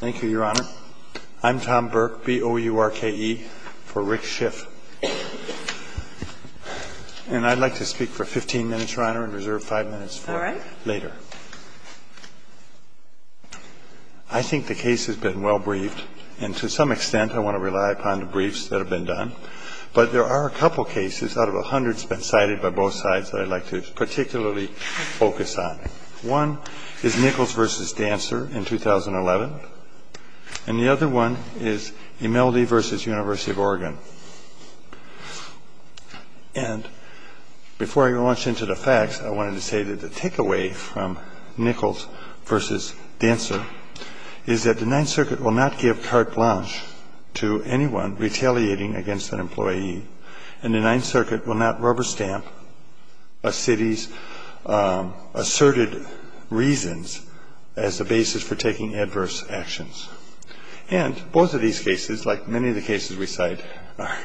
Thank you, Your Honor. I'm Tom Burke, B-O-U-R-K-E, for Rick Schiff. And I'd like to speak for 15 minutes, Your Honor, and reserve 5 minutes for later. I think the case has been well-briefed, and to some extent I want to rely upon the briefs that have been done. But there are a couple cases out of the hundreds that have been cited by both sides that I'd like to particularly focus on. One is Nichols v. Dancer in 2011, and the other one is Imeldi v. University of Oregon. And before I launch into the facts, I wanted to say that the takeaway from Nichols v. Dancer is that the Ninth Circuit will not give carte blanche to anyone retaliating against an employee, and the Ninth Circuit will not rubber-stamp a city's asserted reasons as the basis for taking adverse actions. And both of these cases, like many of the cases we cite, are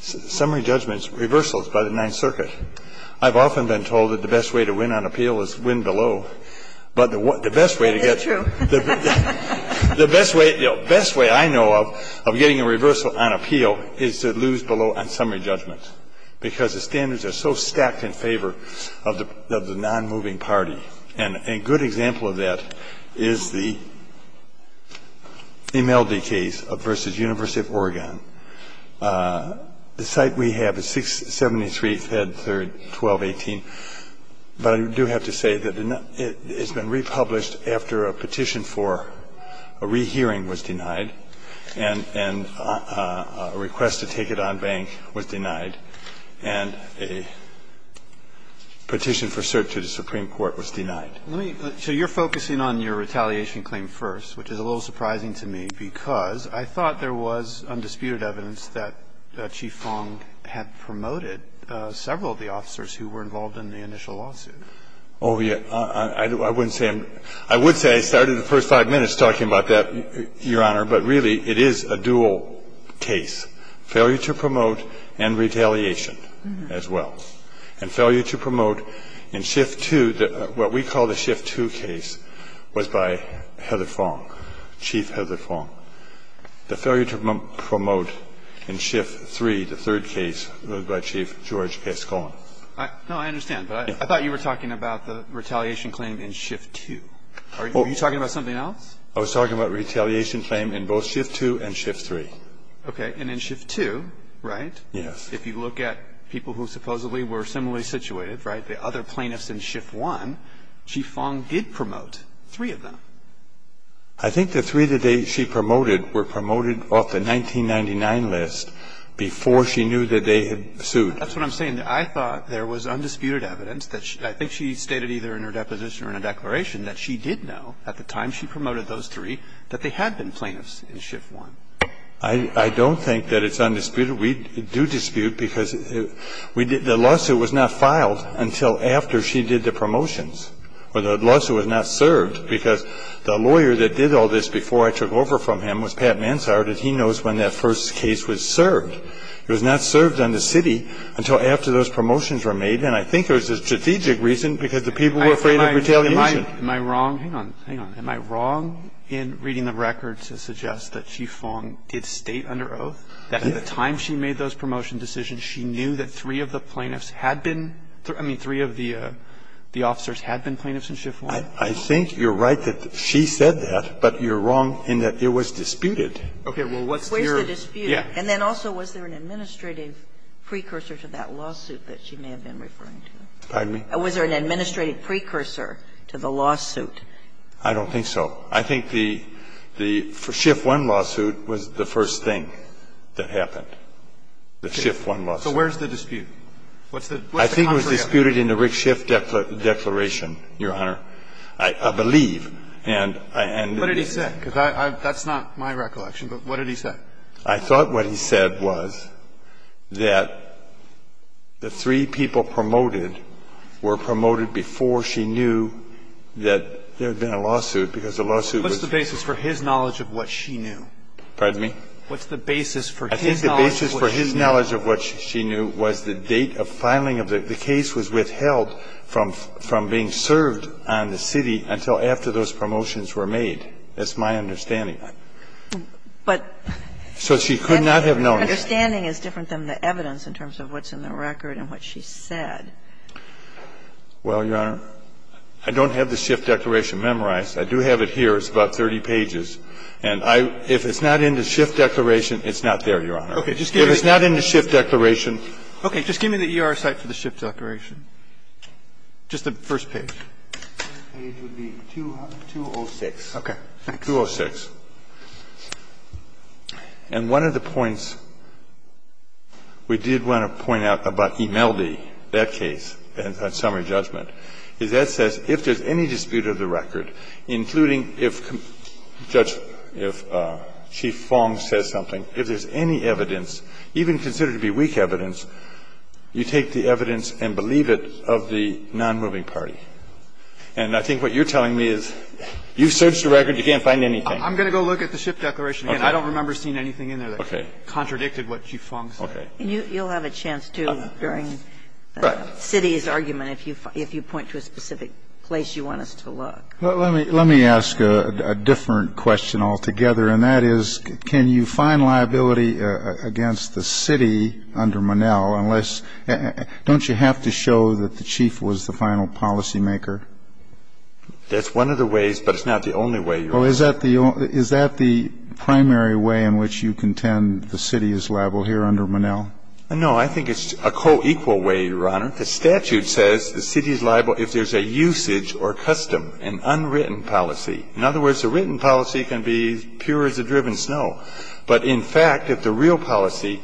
summary judgments, reversals by the Ninth Circuit. I've often been told that the best way to win on appeal is to win below. But the best way to get... That's true. The best way I know of getting a reversal on appeal is to lose below on summary judgments, because the standards are so stacked in favor of the non-moving party. And a good example of that is the Imeldi case v. University of Oregon. The cite we have is 673, Fed 3, 1218. But I do have to say that it's been republished after a petition for a rehearing was denied and a request to take it on bank was denied, and a petition for cert to the Supreme Court was denied. So you're focusing on your retaliation claim first, which is a little surprising to me, because I thought there was undisputed evidence that Chief Fong had promoted several of the officers who were involved in the initial lawsuit. Oh, yeah. I wouldn't say I'm – I would say I started the first five minutes talking about that, Your Honor. But really, it is a dual case, failure to promote and retaliation as well. And failure to promote in Shift 2, what we call the Shift 2 case, was by Heather Fong, Chief Heather Fong. The failure to promote in Shift 3, the third case, was by Chief George S. Coleman. No, I understand. But I thought you were talking about the retaliation claim in Shift 2. Are you talking about something else? I was talking about retaliation claim in both Shift 2 and Shift 3. Okay. And in Shift 2, right? Yes. If you look at people who supposedly were similarly situated, right, the other plaintiffs in Shift 1, Chief Fong did promote three of them. I think the three that she promoted were promoted off the 1999 list before she knew that they had sued. That's what I'm saying. I thought there was undisputed evidence that she – I think she stated either in her deposition or in her declaration that she did know at the time she promoted those three that they had been plaintiffs in Shift 1. I don't think that it's undisputed. We do dispute because we did – the lawsuit was not filed until after she did the promotions or the lawsuit was not served, because the lawyer that did all this before I took over from him was Pat Manshard, and he knows when that first case was served. It was not served on the city until after those promotions were made. And I think there was a strategic reason, because the people were afraid of retaliation. Am I wrong? Hang on. Hang on. Am I wrong in reading the records to suggest that Chief Fong did state under oath that at the time she made those promotion decisions, she knew that three of the plaintiffs had been – I mean, three of the officers had been plaintiffs in Shift 1? I think you're right that she said that, but you're wrong in that it was disputed. Okay. Where's the dispute? And then also, was there an administrative precursor to that lawsuit that she may have been referring to? Pardon me? Was there an administrative precursor to the lawsuit? I don't think so. I think the – the Shift 1 lawsuit was the first thing that happened. The Shift 1 lawsuit. So where's the dispute? What's the contrary evidence? I think it was disputed in the Rick Shift declaration, Your Honor. I believe. And I end the case. What did he say? Because that's not my recollection, but what did he say? I thought what he said was that the three people promoted were promoted before she knew that there had been a lawsuit, because the lawsuit was – What's the basis for his knowledge of what she knew? Pardon me? What's the basis for his knowledge of what she knew? I think the basis for his knowledge of what she knew was the date of filing of the – the case was withheld from being served on the city until after those promotions were made. That's my understanding. But – So she could not have known. My understanding is different than the evidence in terms of what's in the record and what she said. Well, Your Honor, I don't have the Shift declaration memorized. I do have it here. It's about 30 pages. And I – if it's not in the Shift declaration, it's not there, Your Honor. If it's not in the Shift declaration – Okay. Just give me the ER site for the Shift declaration. Just the first page. The first page would be 206. Okay. 206. And one of the points we did want to point out about Imeldi, that case, on summary judgment, is that says if there's any dispute of the record, including if Judge – if Chief Fong says something, if there's any evidence, even considered to be weak evidence, you take the evidence and believe it of the nonmoving party. And I think what you're telling me is you've searched the record. You can't find anything. I'm going to go look at the Shift declaration again. I don't remember seeing anything in there that contradicted what Chief Fong said. Okay. You'll have a chance to during the city's argument if you point to a specific place you want us to look. Let me ask a different question altogether, and that is, can you find liability against the city under Monell unless – don't you have to show that the Chief was the final policymaker? That's one of the ways, but it's not the only way, Your Honor. Well, is that the primary way in which you contend the city is liable here under Monell? No. I think it's a co-equal way, Your Honor. The statute says the city is liable if there's a usage or custom, an unwritten policy. In other words, a written policy can be as pure as the driven snow. But in fact, if the real policy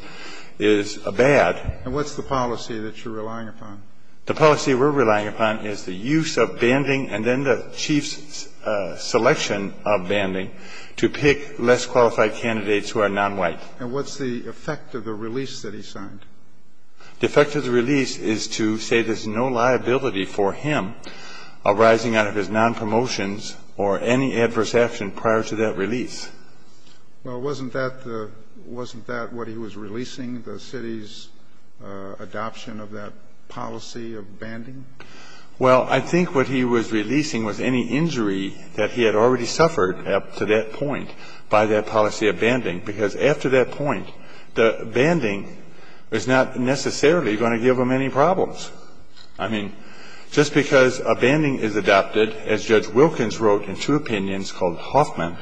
is bad – And what's the policy that you're relying upon? The policy we're relying upon is the use of banding and then the chief's selection of banding to pick less qualified candidates who are nonwhite. And what's the effect of the release that he signed? The effect of the release is to say there's no liability for him arising out of his nonpromotions or any adverse action prior to that release. Well, wasn't that the – wasn't that what he was releasing, the city's adoption of that policy of banding? Well, I think what he was releasing was any injury that he had already suffered up to that point by that policy of banding, because after that point, the banding is not necessarily going to give him any problems. I mean, just because a banding is adopted, as Judge Wilkins wrote in two opinions called Hoffman,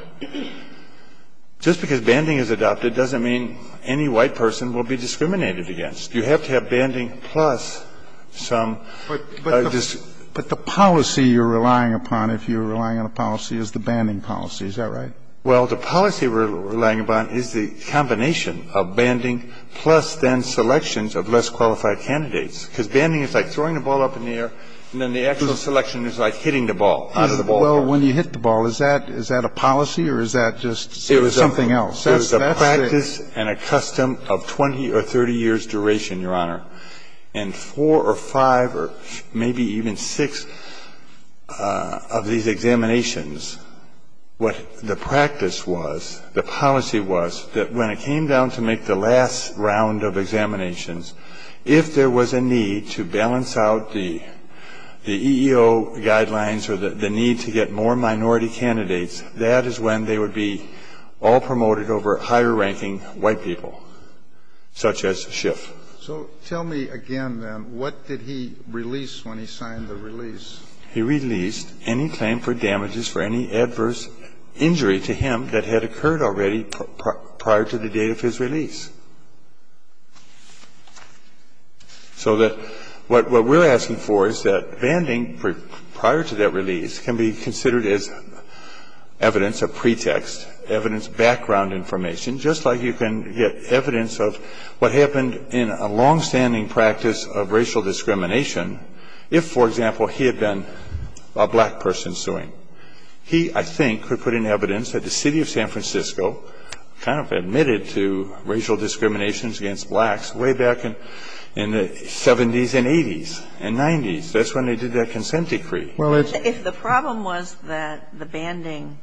just because banding is adopted doesn't mean any white person will be discriminated against. You have to have banding plus some – But the policy you're relying upon, if you're relying on a policy, is the banding policy. Is that right? Well, the policy we're relying upon is the combination of banding plus then selections of less qualified candidates, because banding is like throwing the ball up in the air, and then the actual selection is like hitting the ball. Well, when you hit the ball, is that a policy or is that just something else? It's a practice and a custom of 20 or 30 years' duration, Your Honor. And four or five or maybe even six of these examinations, what the practice was, the policy was that when it came down to make the last round of examinations, if there was a need to balance out the EEO guidelines or the need to get more people, such as Schiff. So tell me again, then, what did he release when he signed the release? He released any claim for damages for any adverse injury to him that had occurred already prior to the date of his release. So what we're asking for is that banding prior to that release can be considered as evidence, a pretext, evidence, background information, just like you can get evidence of what happened in a longstanding practice of racial discrimination if, for example, he had been a black person suing. He, I think, could put in evidence that the City of San Francisco kind of admitted to racial discriminations against blacks way back in the 70s and 80s and 90s. That's when they did that consent decree. If the problem was that the banding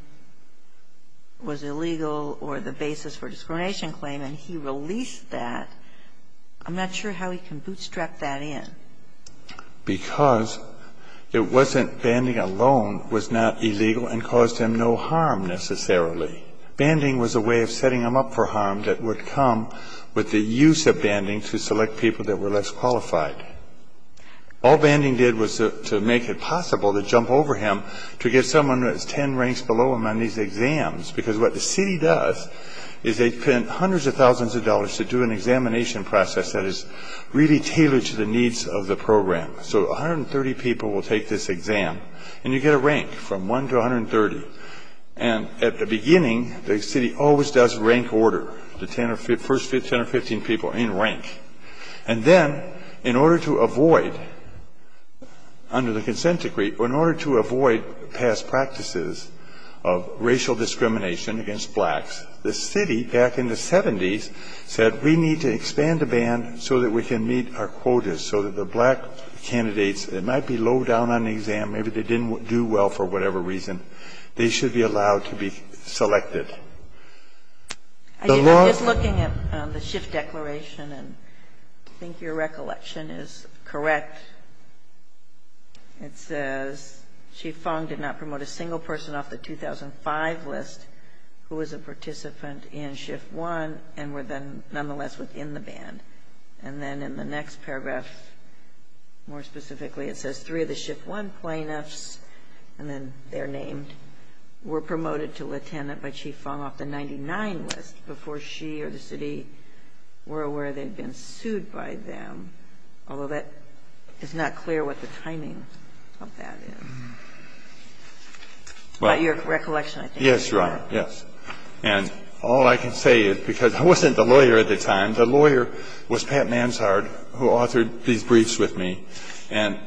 was illegal or the basis for a discrimination claim and he released that, I'm not sure how he can bootstrap that in. Because it wasn't banding alone was not illegal and caused him no harm necessarily. Banding was a way of setting him up for harm that would come with the use of banding to select people that were less qualified. All banding did was to make it possible to jump over him to get someone who was 10 ranks below him on these exams because what the city does is they spend hundreds of thousands of dollars to do an examination process that is really tailored to the needs of the program. So 130 people will take this exam, and you get a rank from 1 to 130. And at the beginning, the city always does rank order, the first 10 or 15 people in rank. And then in order to avoid, under the consent decree, in order to avoid past practices of racial discrimination against blacks, the city back in the 70s said we need to expand the band so that we can meet our quotas so that the black candidates that might be low down on the exam, maybe they didn't do well for whatever reason, they should be allowed to be selected. I'm just looking at the Schiff declaration, and I think your recollection is correct. It says, Chief Fong did not promote a single person off the 2005 list who was a participant in Schiff 1 and were then nonetheless within the band. And then in the next paragraph, more specifically, it says three of the Schiff 1 plaintiffs, and then they're named, were promoted to lieutenant by Chief Fong off the 99 list before she or the city were aware they'd been sued by them. Although that is not clear what the timing of that is. But your recollection, I think, is correct. Yes, Your Honor, yes. And all I can say is because I wasn't the lawyer at the time. The lawyer was Pat Manshard, who authored these briefs with me. And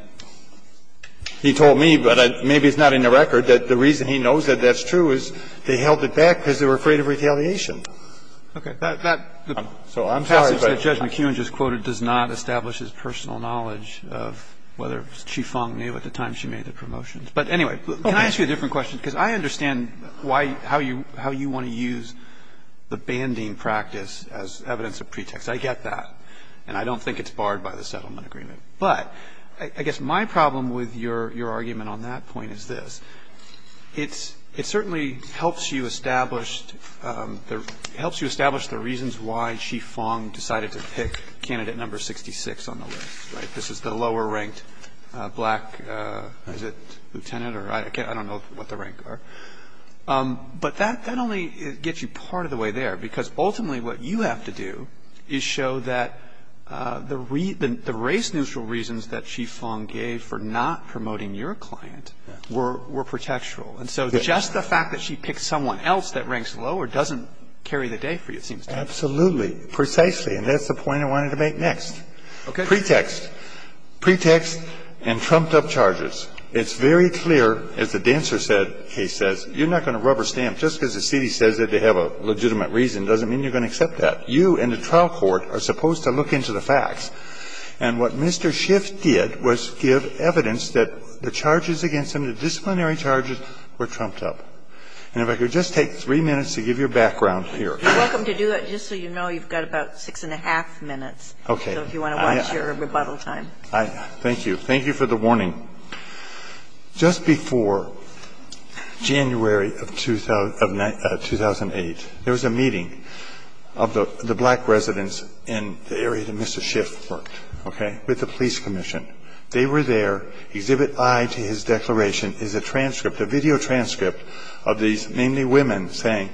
he told me, but maybe it's not in the record, that the reason he knows that that's true is they held it back because they were afraid of retaliation. Okay. So I'm sorry, but the passage that Judge McKeown just quoted does not establish his personal knowledge of whether Chief Fong knew at the time she made the promotions. But anyway, can I ask you a different question? Because I understand why, how you want to use the banding practice as evidence of pretext. I get that. And I don't think it's barred by the settlement agreement. But I guess my problem with your argument on that point is this. It certainly helps you establish the reasons why Chief Fong decided to pick candidate number 66 on the list, right? This is the lower-ranked black, is it lieutenant? I don't know what the ranks are. But that only gets you part of the way there, because ultimately what you have to do is show that the race-neutral reasons that Chief Fong gave for not promoting your client were pretextual. And so just the fact that she picked someone else that ranks lower doesn't carry the day for you, it seems to me. Absolutely. Precisely. And that's the point I wanted to make next. Okay. Pretext. Pretext and trumped-up charges. It's very clear, as the Dancer case says, you're not going to rubber stamp. Just because the city says that they have a legitimate reason doesn't mean you're going to accept that. You and the trial court are supposed to look into the facts. And what Mr. Schiff did was give evidence that the charges against him, the disciplinary charges, were trumped-up. And if I could just take three minutes to give your background here. You're welcome to do that. Just so you know, you've got about six and a half minutes. Okay. So if you want to watch your rebuttal time. Thank you. Thank you for the warning. Just before January of 2008, there was a meeting of the black residents in the area that Mr. Schiff worked. Okay. With the police commission. They were there. Exhibit I to his declaration is a transcript, a video transcript, of these mainly women saying,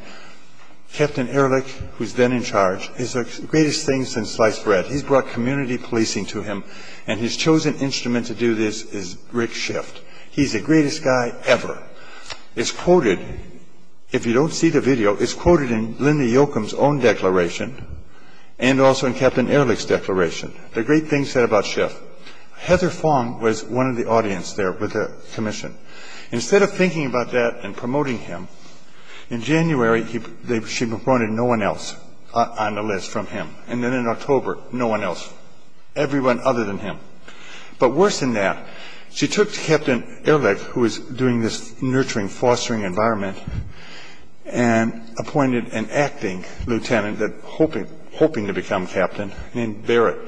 Captain Ehrlich, who's then in charge, is the greatest thing since sliced bread. He's brought community policing to him. And his chosen instrument to do this is Rick Schiff. He's the greatest guy ever. It's quoted, if you don't see the video, it's quoted in Linda Yoakum's own declaration and also in Captain Ehrlich's declaration. The great thing said about Schiff, Heather Fong was one of the audience there with the commission. Instead of thinking about that and promoting him, in January, she appointed no one else on the list from him. And then in October, no one else. Everyone other than him. But worse than that, she took Captain Ehrlich, who was doing this nurturing, fostering environment, and appointed an acting lieutenant hoping to become captain named Barrett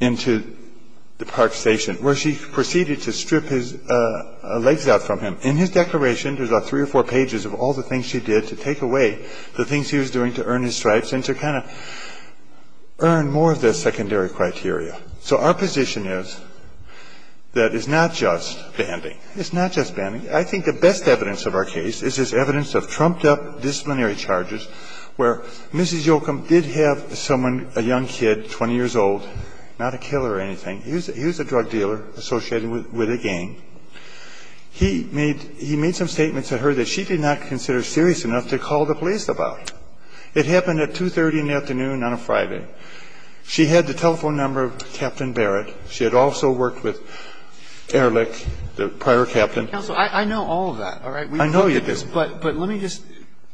into the park station, where she proceeded to strip his legs out from him. In his declaration, there's about three or four pages of all the things she did to take away the things he was doing to earn his stripes. And to kind of earn more of the secondary criteria. So our position is that it's not just banding. It's not just banding. I think the best evidence of our case is this evidence of trumped-up disciplinary charges, where Mrs. Yoakum did have someone, a young kid, 20 years old, not a killer or anything. He was a drug dealer associated with a gang. He made some statements to her that she did not consider serious enough to call the police about. It happened at 2.30 in the afternoon on a Friday. She had the telephone number of Captain Barrett. She had also worked with Ehrlich, the prior captain. I know all of that. All right. I know you do. But let me just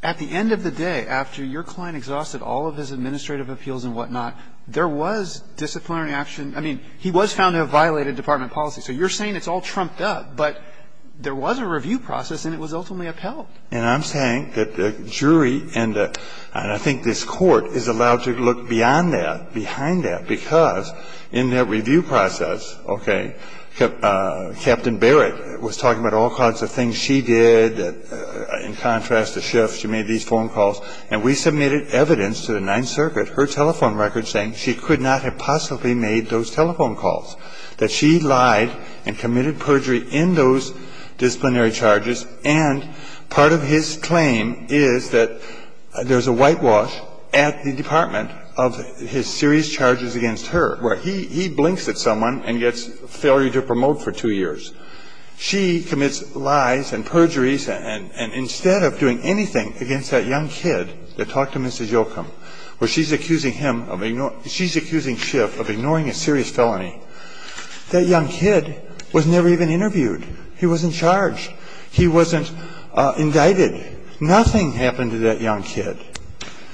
at the end of the day, after your client exhausted all of his administrative appeals and whatnot, there was disciplinary action. I mean, he was found to have violated department policy. So you're saying it's all trumped up, but there was a review process and it was ultimately upheld. And I'm saying that the jury and I think this court is allowed to look beyond that, behind that, because in that review process, okay, Captain Barrett was talking about all kinds of things she did. In contrast to Schiff, she made these phone calls. And we submitted evidence to the Ninth Circuit, her telephone record, saying she could not have possibly made those telephone calls, that she lied and committed perjury in those disciplinary charges. And part of his claim is that there's a whitewash at the department of his serious charges against her, where he blinks at someone and gets failure to promote for two years. She commits lies and perjuries, and instead of doing anything against that young kid that talked to Mrs. That young kid was never even interviewed. He wasn't charged. He wasn't indicted. Nothing happened to that young kid.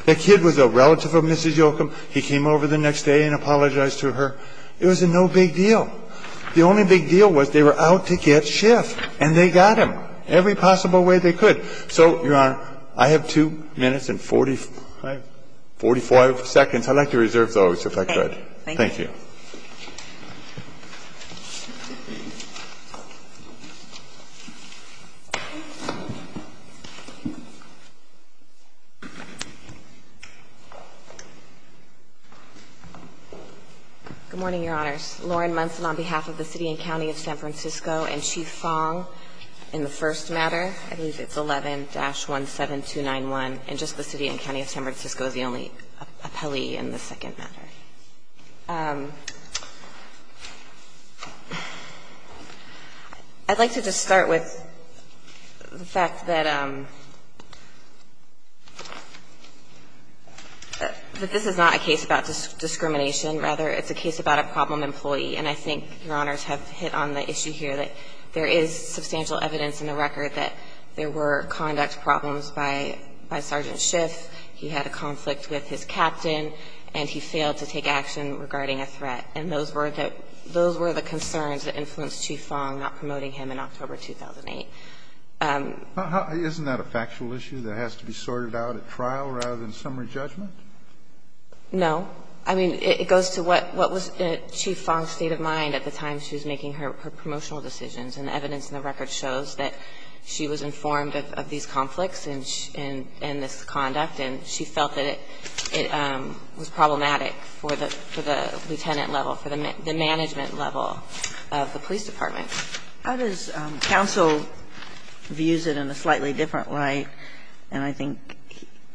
That kid was a relative of Mrs. Yocum. He came over the next day and apologized to her. It was no big deal. The only big deal was they were out to get Schiff, and they got him every possible way they could. So, Your Honor, I have two minutes and 45 seconds. I'd like to reserve those if I could. Thank you. Good morning, Your Honors. Lauren Munson on behalf of the City and County of San Francisco, and Chief Fong in the first matter. I believe it's 11-17291. And just the City and County of San Francisco is the only appellee in the second matter. I'd like to just start with the fact that this is not a case about discrimination, rather it's a case about a problem employee. And I think Your Honors have hit on the issue here that there is substantial evidence in the record that there were conduct problems by Sergeant Schiff. He had a conflict with his captain, and he failed to take action regarding a threat. And those were the concerns that influenced Chief Fong not promoting him in October 2008. Isn't that a factual issue that has to be sorted out at trial rather than summary judgment? No. I mean, it goes to what was Chief Fong's state of mind at the time she was making her promotional decisions. And the evidence in the record shows that she was informed of these conflicts in this conduct, and she felt that it was problematic for the lieutenant level, for the management level of the police department. How does counsel view it in a slightly different light? And I think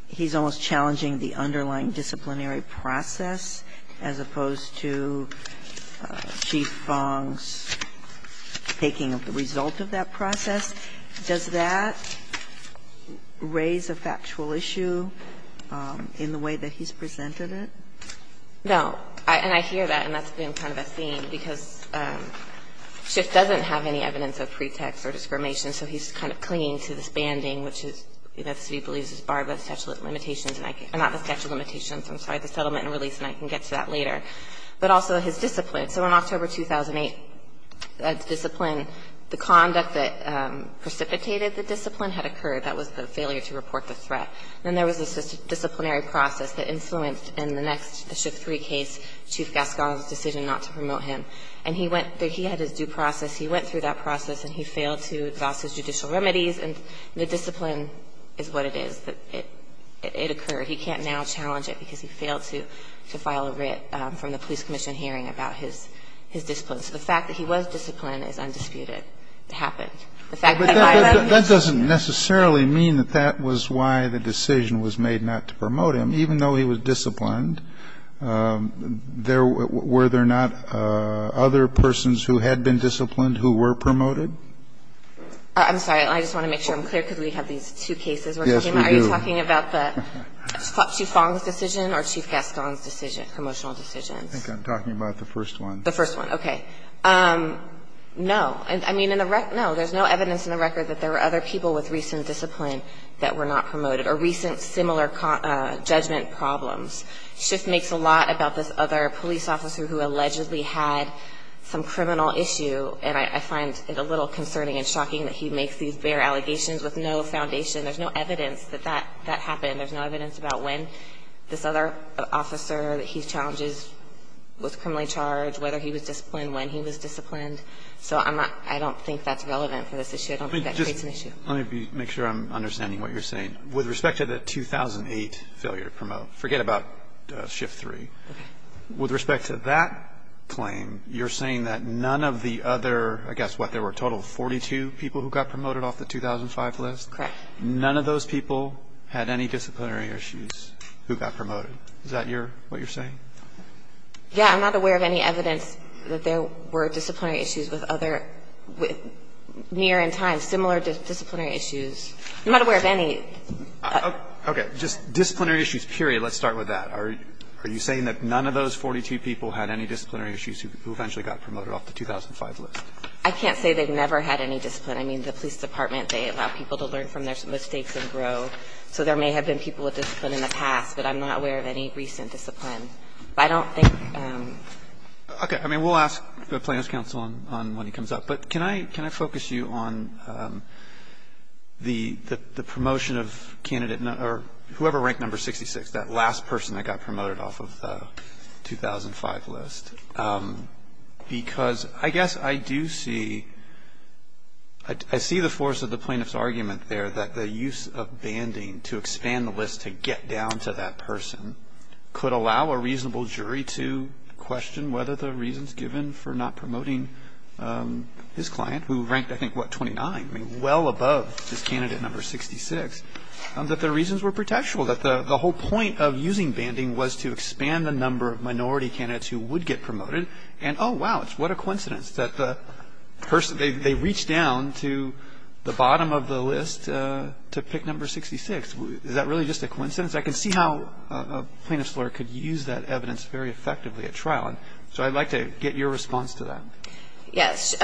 he's almost challenging the underlying disciplinary process as opposed to Chief Fong's taking of the result of that process. Does that raise a factual issue in the way that he's presented it? No. And I hear that, and that's been kind of a theme, because Schiff doesn't have any evidence of pretext or discrimination, so he's kind of clinging to this banding, which is, you know, the city believes is barred by the statute of limitations and I can't – not the statute of limitations, I'm sorry, the settlement and release, and I can get to that later, but also his discipline. So in October 2008, discipline, the conduct that precipitated the discipline had occurred. That was the failure to report the threat. Then there was a disciplinary process that influenced, in the next Schiff 3 case, Chief Gascon's decision not to promote him. And he went – he had his due process. He went through that process, and he failed to exhaust his judicial remedies, and the discipline is what it is. It occurred. He can't now challenge it because he failed to file a writ from the police commission hearing about his discipline. So the fact that he was disciplined is undisputed. It happened. The fact that he filed that decision. Kennedy, but that doesn't necessarily mean that that was why the decision was made not to promote him. Even though he was disciplined, there – were there not other persons who had been disciplined who were promoted? I'm sorry. I just want to make sure I'm clear, because we have these two cases. Yes, we do. Are you talking about the Chief Fong's decision or Chief Gascon's decision, promotional decisions? I think I'm talking about the first one. The first one. Okay. No. I mean, in the – no. There's no evidence in the record that there were other people with recent discipline that were not promoted or recent similar judgment problems. It just makes a lot about this other police officer who allegedly had some criminal issue, and I find it a little concerning and shocking that he makes these bare allegations with no foundation. There's no evidence that that happened. There's no evidence about when this other officer that he challenges was criminally charged, whether he was disciplined, when he was disciplined. So I'm not – I don't think that's relevant for this issue. I don't think that creates an issue. Let me just – let me make sure I'm understanding what you're saying. With respect to the 2008 failure to promote – forget about shift three. Okay. With respect to that claim, you're saying that none of the other – I guess, what, there were a total of 42 people who got promoted off the 2005 list? Correct. None of those people had any disciplinary issues who got promoted. Is that your – what you're saying? Yeah. I'm not aware of any evidence that there were disciplinary issues with other – near in time, similar disciplinary issues. I'm not aware of any. Okay. Just disciplinary issues, period. Let's start with that. Are you saying that none of those 42 people had any disciplinary issues who eventually got promoted off the 2005 list? I can't say they never had any discipline. And I mean, the police department, they allow people to learn from their mistakes and grow. So there may have been people with discipline in the past, but I'm not aware of any recent discipline. I don't think – Okay. I mean, we'll ask the Plans Council on when he comes up. But can I focus you on the promotion of candidate – or whoever ranked number 66, that last person that got promoted off of the 2005 list? Because I guess I do see – I see the force of the plaintiff's argument there that the use of banding to expand the list to get down to that person could allow a reasonable jury to question whether the reasons given for not promoting his client, who ranked, I think, what, 29? I mean, well above this candidate number 66, that the reasons were protectional, that the whole point of using banding was to expand the number of minority candidates who would get promoted. And oh, wow, what a coincidence that the person – they reached down to the bottom of the list to pick number 66. Is that really just a coincidence? I can see how a plaintiff's lawyer could use that evidence very effectively at trial. So I'd like to get your response to that. Yes.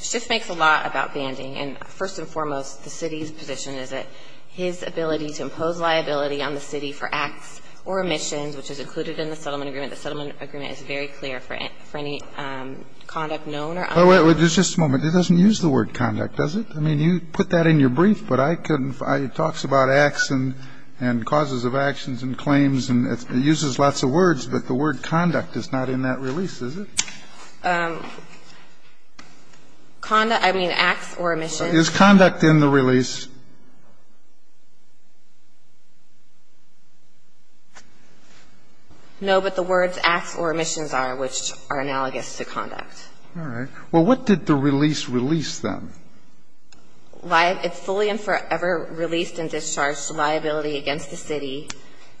Schiff makes a lot about banding. And first and foremost, the city's position is that his ability to impose liability on for any conduct known or unknown. Oh, wait. Just a moment. It doesn't use the word conduct, does it? I mean, you put that in your brief, but I couldn't – it talks about acts and causes of actions and claims, and it uses lots of words, but the word conduct is not in that release, is it? Conduct – I mean, acts or omissions. Is conduct in the release? No, but the words acts or omissions are, which are analogous to conduct. All right. Well, what did the release release, then? It fully and forever released and discharged liability against the city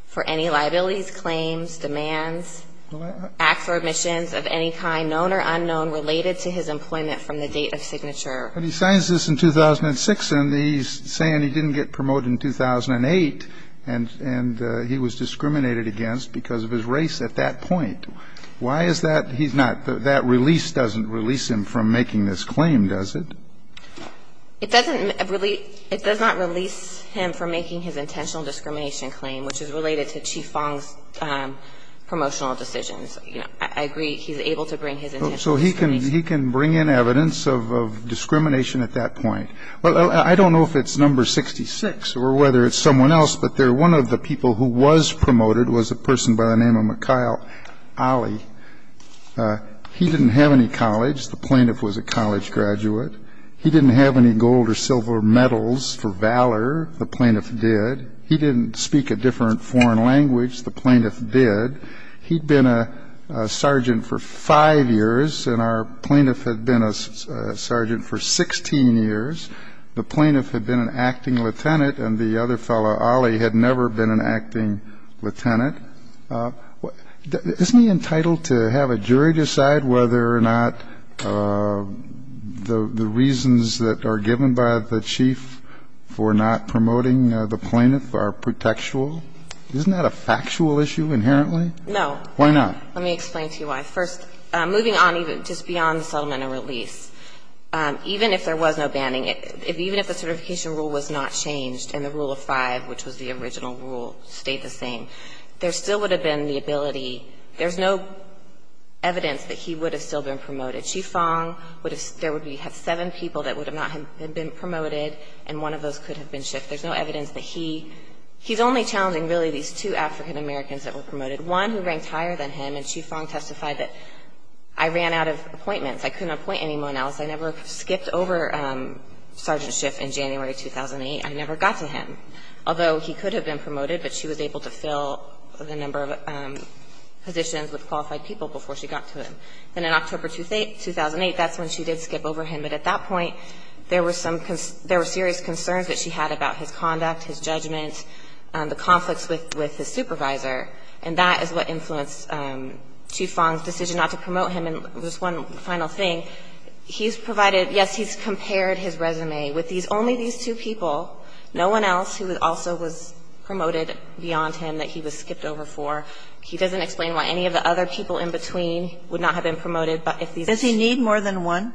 for any liabilities, claims, demands, acts or omissions of any kind known or unknown related to his employment from the date of signature. But he signs this in 2006, and he's saying he didn't get promoted in 2008, and he was discriminated against because of his race at that point. Why is that? He's not – that release doesn't release him from making this claim, does it? It doesn't release – it does not release him from making his intentional discrimination claim, which is related to Chief Fong's promotional decisions. So he can bring in evidence of discrimination at that point. I don't know if it's number 66 or whether it's someone else, but one of the people who was promoted was a person by the name of Mikhail Ali. He didn't have any college. The plaintiff was a college graduate. He didn't have any gold or silver medals for valor. The plaintiff did. He didn't speak a different foreign language. The plaintiff did. He'd been a sergeant for five years, and our plaintiff had been a sergeant for 16 years. The plaintiff had been an acting lieutenant, and the other fellow, Ali, had never been an acting lieutenant. Isn't he entitled to have a jury decide whether or not the reasons that are given by the chief for not promoting the plaintiff are protectual? Isn't that a factual issue inherently? No. Why not? Let me explain to you why. First, moving on even just beyond the settlement and release, even if there was no banning, even if the certification rule was not changed and the Rule of Five, which was the original rule, stayed the same, there still would have been the ability – there's no evidence that he would have still been promoted. Chief Fong would have – there would be seven people that would not have been promoted, and one of those could have been shifted. There's no evidence that he – he's only challenging, really, these two African Americans that were promoted, one who ranked higher than him. And Chief Fong testified that, I ran out of appointments. I couldn't appoint anyone else. I never skipped over Sergeant Schiff in January 2008. I never got to him. Although he could have been promoted, but she was able to fill the number of positions with qualified people before she got to him. Then in October 2008, that's when she did skip over him. But at that point, there were some – there were serious concerns that she had about his conduct, his judgment, the conflicts with his supervisor, and that is what influenced Chief Fong's decision not to promote him. And just one final thing. He's provided – yes, he's compared his resume with these – only these two people, no one else who also was promoted beyond him that he was skipped over for. He doesn't explain why any of the other people in between would not have been promoted. But if these – Do you need more than one?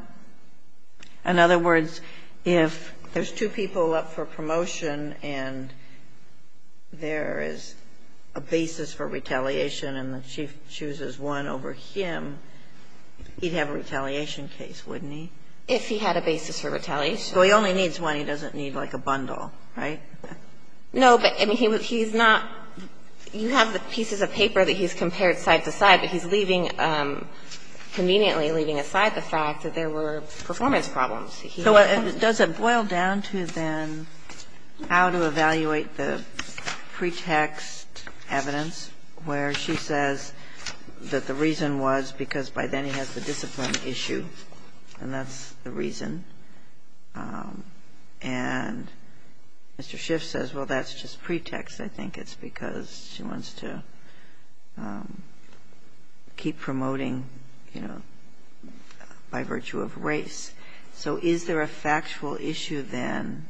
In other words, if there's two people up for promotion and there is a basis for retaliation and the Chief chooses one over him, he'd have a retaliation case, wouldn't he? If he had a basis for retaliation. So he only needs one. He doesn't need, like, a bundle, right? No, but he's not – you have the pieces of paper that he's compared side to side, but he's leaving – conveniently leaving aside the fact that there were performance problems. He – So does it boil down to then how to evaluate the pretext evidence where she says that the reason was because by then he has the discipline issue and that's the reason, and Mr. Schiff says, well, that's just pretext. I think it's because she wants to keep promoting, you know, by virtue of race. So is there a factual issue then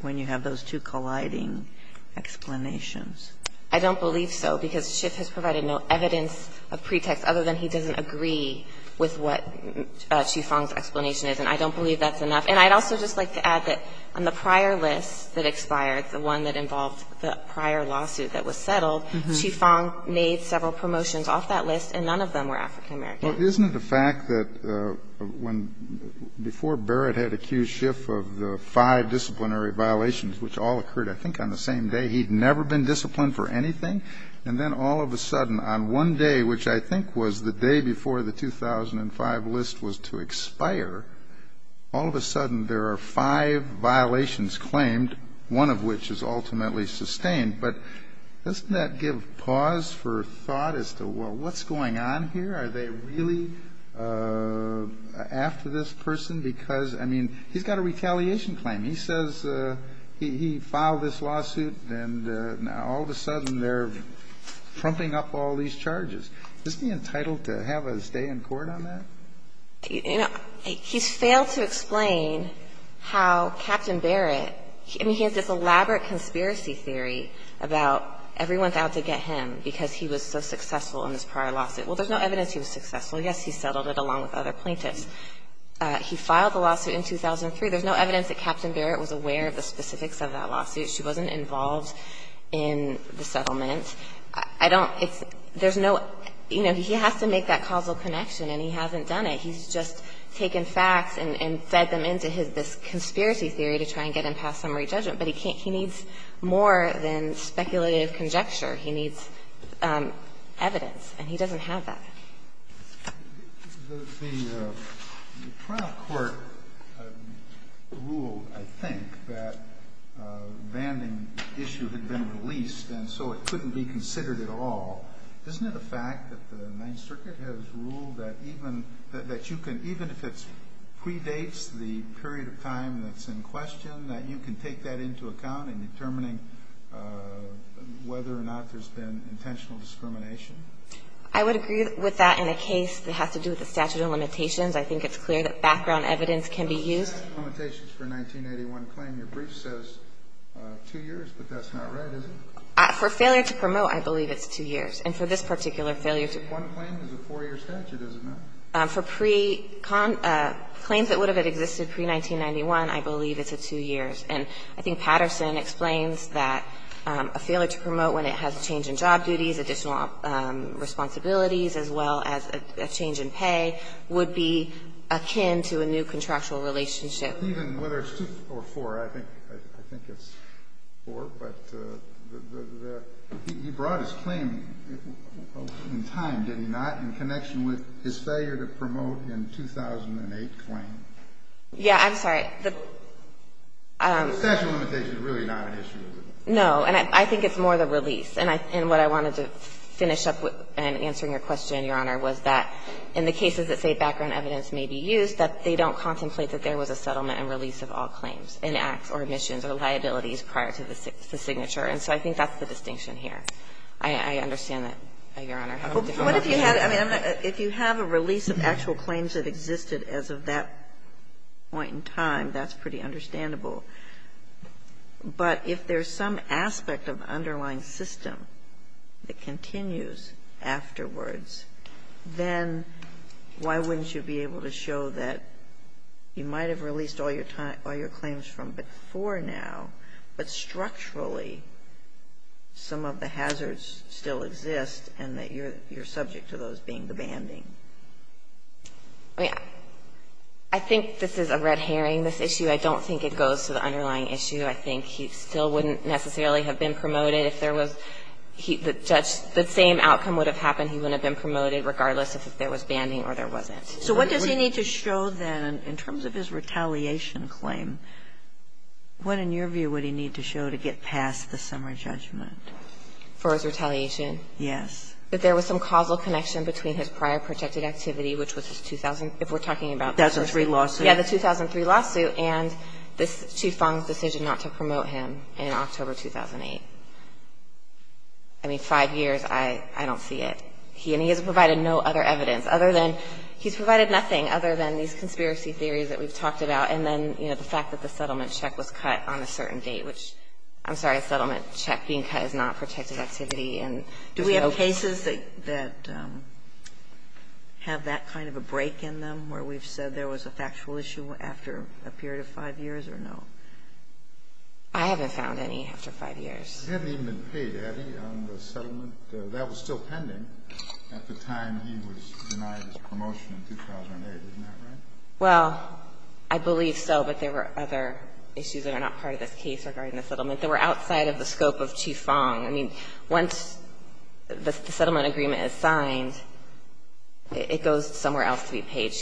when you have those two colliding explanations? I don't believe so, because Schiff has provided no evidence of pretext other than he doesn't agree with what Chief Fong's explanation is, and I don't believe that's enough. And I'd also just like to add that on the prior list that expired, the one that involved the prior lawsuit that was settled, Chief Fong made several promotions off that list, and none of them were African-American. Well, isn't it a fact that when – before Barrett had accused Schiff of the five disciplinary violations, which all occurred, I think, on the same day, he'd never been disciplined for anything, and then all of a sudden on one day, which I think was the day before the 2005 list was to expire, all of a sudden there are five violations claimed, one of which is ultimately sustained. But doesn't that give pause for thought as to, well, what's going on here? Are they really after this person? Because, I mean, he's got a retaliation claim. He says he filed this lawsuit, and now all of a sudden they're trumping up all these charges. Is he entitled to have a stay in court on that? You know, he's failed to explain how Captain Barrett – I mean, he has this elaborate conspiracy theory about everyone's out to get him because he was so successful in this prior lawsuit. Well, there's no evidence he was successful. Yes, he settled it along with other plaintiffs. He filed the lawsuit in 2003. There's no evidence that Captain Barrett was aware of the specifics of that lawsuit. She wasn't involved in the settlement. I don't – there's no – you know, he has to make that causal connection, and he hasn't done it. He's just taken facts and fed them into his – this conspiracy theory to try and get him past summary judgment. But he can't – he needs more than speculative conjecture. He needs evidence, and he doesn't have that. The trial court ruled, I think, that a banding issue had been released, and so it couldn't be considered at all. Isn't it a fact that the Ninth Circuit has ruled that even – that you can – even if it predates the period of time that's in question, that you can take that into account in determining whether or not there's been intentional discrimination? I would agree with that in a case that has to do with the statute of limitations. I think it's clear that background evidence can be used. The statute of limitations for a 1981 claim, your brief says 2 years, but that's not right, is it? For failure to promote, I believe it's 2 years. And for this particular failure to – One claim is a 4-year statute, is it not? For pre – claims that would have existed pre-1991, I believe it's a 2 years. And I think Patterson explains that a failure to promote when it has change in job responsibilities as well as a change in pay would be akin to a new contractual relationship. Even whether it's 2 or 4, I think it's 4, but the – he brought his claim in time, did he not, in connection with his failure to promote in 2008 claim? Yeah, I'm sorry. The statute of limitations is really not an issue, is it? No. And I think it's more the release. And what I wanted to finish up with in answering your question, Your Honor, was that in the cases that say background evidence may be used, that they don't contemplate that there was a settlement and release of all claims and acts or omissions or liabilities prior to the signature. And so I think that's the distinction here. I understand that, Your Honor. What if you have – I mean, if you have a release of actual claims that existed as of that point in time, that's pretty understandable. But if there's some aspect of the underlying system that continues afterwards, then why wouldn't you be able to show that you might have released all your claims from before now, but structurally some of the hazards still exist and that you're subject to those being the banding? I think this is a red herring, this issue. I don't think it goes to the underlying issue. I think he still wouldn't necessarily have been promoted. If there was – the same outcome would have happened. He wouldn't have been promoted, regardless if there was banding or there wasn't. So what does he need to show, then, in terms of his retaliation claim? What, in your view, would he need to show to get past the summary judgment? For his retaliation? Yes. That there was some causal connection between his prior protected activity, which was his 2000 – if we're talking about the 2003 lawsuit. Yeah, the 2003 lawsuit. And this – Qi Feng's decision not to promote him in October 2008. I mean, five years, I don't see it. He – and he has provided no other evidence other than – he's provided nothing other than these conspiracy theories that we've talked about and then, you know, the fact that the settlement check was cut on a certain date, which – I'm sorry, a settlement check being cut is not protected activity and there's no – Do we have cases that have that kind of a break in them, where we've said there was a factual issue after a period of five years or no? I haven't found any after five years. He hadn't even been paid, had he, on the settlement? That was still pending at the time he was denied his promotion in 2008. Isn't that right? Well, I believe so, but there were other issues that are not part of this case regarding the settlement. They were outside of the scope of Qi Feng. She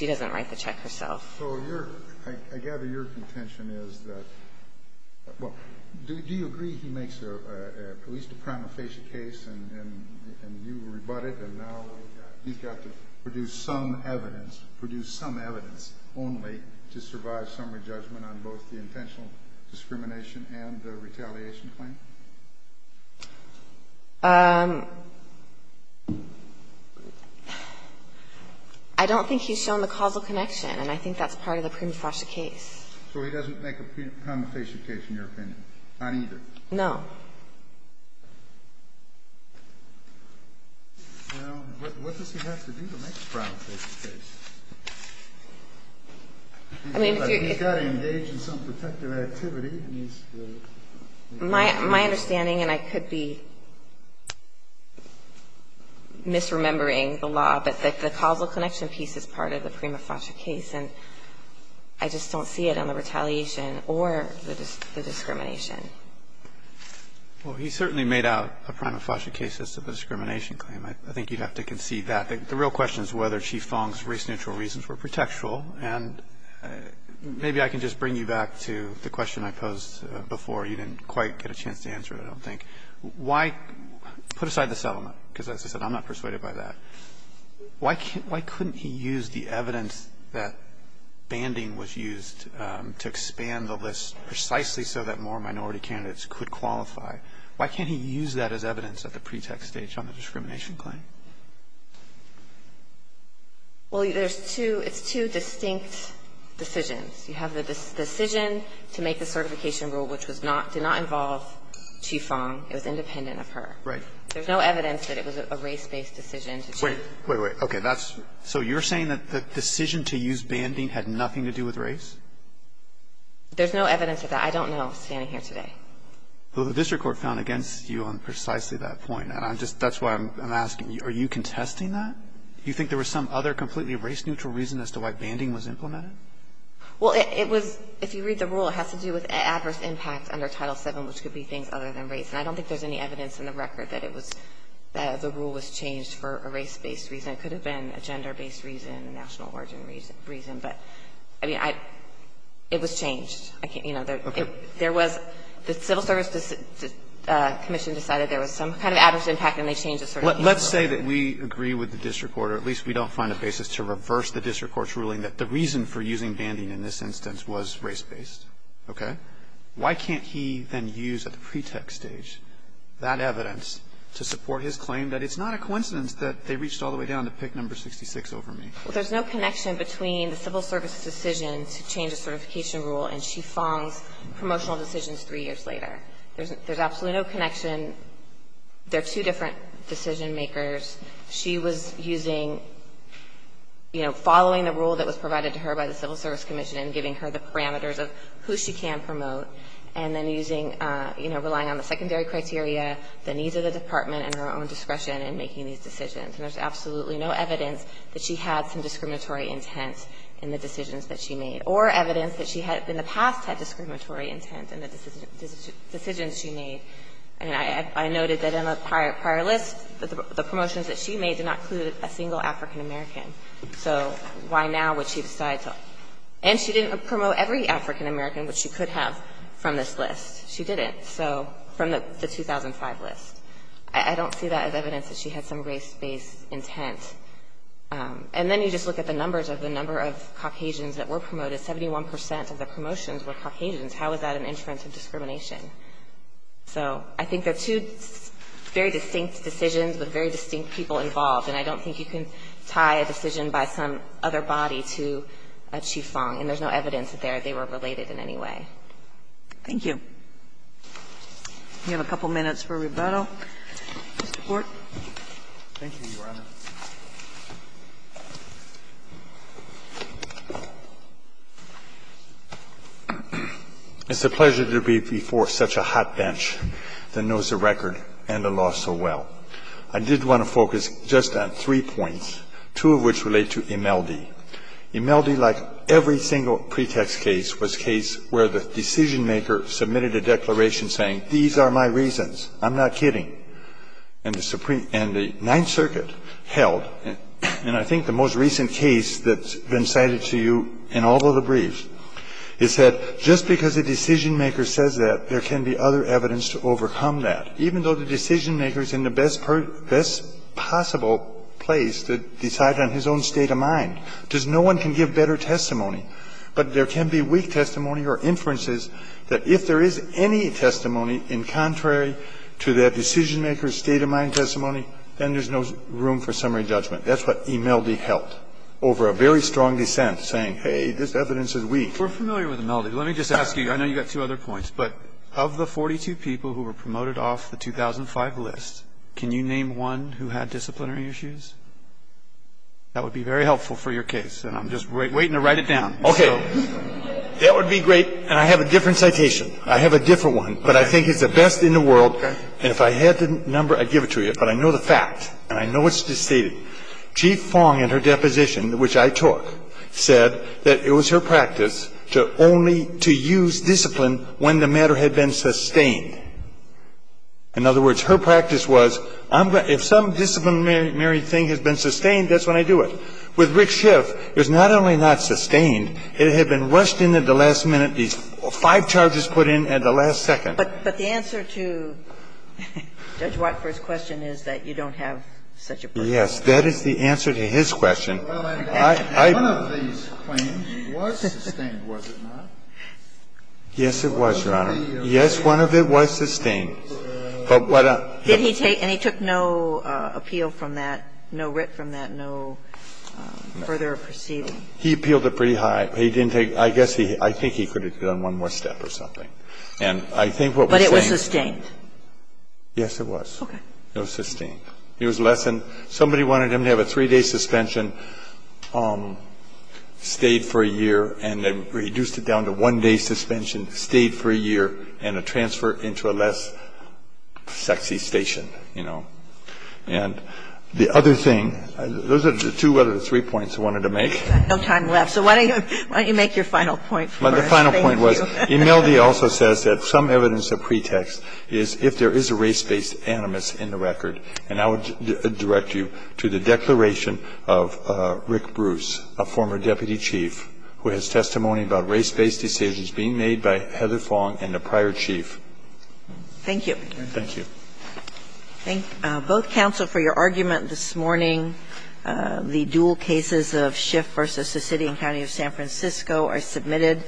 doesn't write the check herself. So your – I gather your contention is that – well, do you agree he makes at least a prima facie case and you rebut it, and now he's got to produce some evidence – produce some evidence only to survive summary judgment on both the intentional discrimination and the retaliation claim? I don't think he's shown the causal connection, and I think that's part of the prima facie case. So he doesn't make a prima facie case, in your opinion? Not either? No. Well, what does he have to do to make a prima facie case? I mean, if you're – He's got to engage in some protective activity, and he's – My understanding, and I could be misremembering the law, but the causal connection piece is part of the prima facie case, and I just don't see it on the retaliation or the discrimination. Well, he certainly made out a prima facie case as to the discrimination claim. I think you'd have to concede that. The real question is whether Qi Feng's race-neutral reasons were protectural, and maybe I can just bring you back to the question I posed before. You didn't quite get a chance to answer it, I don't think. Why – put aside the settlement, because as I said, I'm not persuaded by that. Why couldn't he use the evidence that banding was used to expand the list precisely so that more minority candidates could qualify? Why can't he use that as evidence at the pretext stage on the discrimination claim? Well, there's two – it's two distinct decisions. You have the decision to make the certification rule, which was not – did not involve Qi Feng. It was independent of her. Right. There's no evidence that it was a race-based decision. Wait. Wait, wait. Okay. That's – so you're saying that the decision to use banding had nothing to do with race? There's no evidence of that. I don't know, standing here today. Well, the district court found against you on precisely that point, and I'm just – that's why I'm asking. Are you contesting that? Do you think there was some other completely race-neutral reason as to why banding was implemented? Well, it was – if you read the rule, it has to do with adverse impact under Title VII, which could be things other than race. And I don't think there's any evidence in the record that it was – that the rule was changed for a race-based reason. It could have been a gender-based reason, a national origin reason. But, I mean, I – it was changed. I can't – you know, there was – the civil service commission decided there was some kind of adverse impact, and they changed the certification rule. Let's say that we agree with the district court, or at least we don't find a basis to reverse the district court's ruling that the reason for using banding in this instance was race-based. Okay? Why can't he then use at the pretext stage that evidence to support his claim that it's not a coincidence that they reached all the way down to pick number 66 over me? Well, there's no connection between the civil service's decision to change the certification rule and Chief Fong's promotional decisions three years later. There's absolutely no connection. They're two different decision makers. She was using – you know, following the rule that was provided to her by the civil service commission and giving her the parameters of who she can promote, and then using – you know, relying on the secondary criteria, the needs of the department, and her own discretion in making these decisions. And there's absolutely no evidence that she had some discriminatory intent in the decisions that she made, or evidence that she had – in the past had discriminatory intent in the decisions she made. And I noted that in the prior list, the promotions that she made did not include a single African-American. So why now would she decide to – and she didn't promote every African-American which she could have from this list. She didn't. So from the 2005 list. I don't see that as evidence that she had some race-based intent. And then you just look at the numbers of the number of Caucasians that were promoted. 71 percent of the promotions were Caucasians. How is that an inference of discrimination? So I think they're two very distinct decisions with very distinct people involved. And I don't think you can tie a decision by some other body to a chief Fong. And there's no evidence that they were related in any way. Thank you. We have a couple minutes for rebuttal. Mr. Court. Thank you, Your Honor. It's a pleasure to be before such a hot bench that knows the record and the law so well. I did want to focus just on three points, two of which relate to Imeldi. Imeldi, like every single pretext case, was a case where the decision-maker submitted a declaration saying, these are my reasons. I'm not kidding. And the Ninth Circuit held, and I think the most recent case that's been cited to you in all of the briefs, is that just because a decision-maker says that, there can be other evidence to overcome that. Even though the decision-maker is in the best possible place to decide on his own state of mind, because no one can give better testimony. But there can be weak testimony or inferences that if there is any testimony in contrary to that decision-maker's state of mind testimony, then there's no room for summary judgment. That's what Imeldi held over a very strong dissent saying, hey, this evidence is weak. We're familiar with Imeldi. Let me just ask you, I know you've got two other points, but of the 42 people who were promoted off the 2005 list, can you name one who had disciplinary issues? That would be very helpful for your case, and I'm just waiting to write it down. Okay. That would be great, and I have a different citation. I have a different one, but I think it's the best in the world. Okay. And if I had the number, I'd give it to you. But I know the fact, and I know it's stated. Chief Fong, in her deposition, which I took, said that it was her practice to only to use discipline when the matter had been sustained. In other words, her practice was, if some disciplinary thing has been sustained, that's when I do it. With Rick Schiff, it was not only not sustained, it had been rushed into the last minute, these five charges put in at the last second. But the answer to Judge Whiteford's question is that you don't have such a practice. Yes. That is the answer to his question. Well, one of these claims was sustained, was it not? Yes, it was, Your Honor. Yes, one of it was sustained. But what a ---- Did he take no appeal from that, no writ from that, no further proceeding? He appealed it pretty high. I think he could have done one more step or something. But it was sustained? Yes, it was. Okay. It was sustained. Somebody wanted him to have a three-day suspension, stayed for a year, and then reduced it down to one-day suspension, stayed for a year, and a transfer into a less sexy station, you know. And the other thing, those are the two other three points I wanted to make. Thank you. We have no time left. So why don't you make your final point for us. The final point was Emelde also says that some evidence of pretext is if there is a race-based animus in the record. And I would direct you to the declaration of Rick Bruce, a former deputy chief, who has testimony about race-based decisions being made by Heather Fong and the prior chief. Thank you. Thank you. Thank both counsel for your argument this morning. The dual cases of Schiff v. Sicilian County of San Francisco are submitted.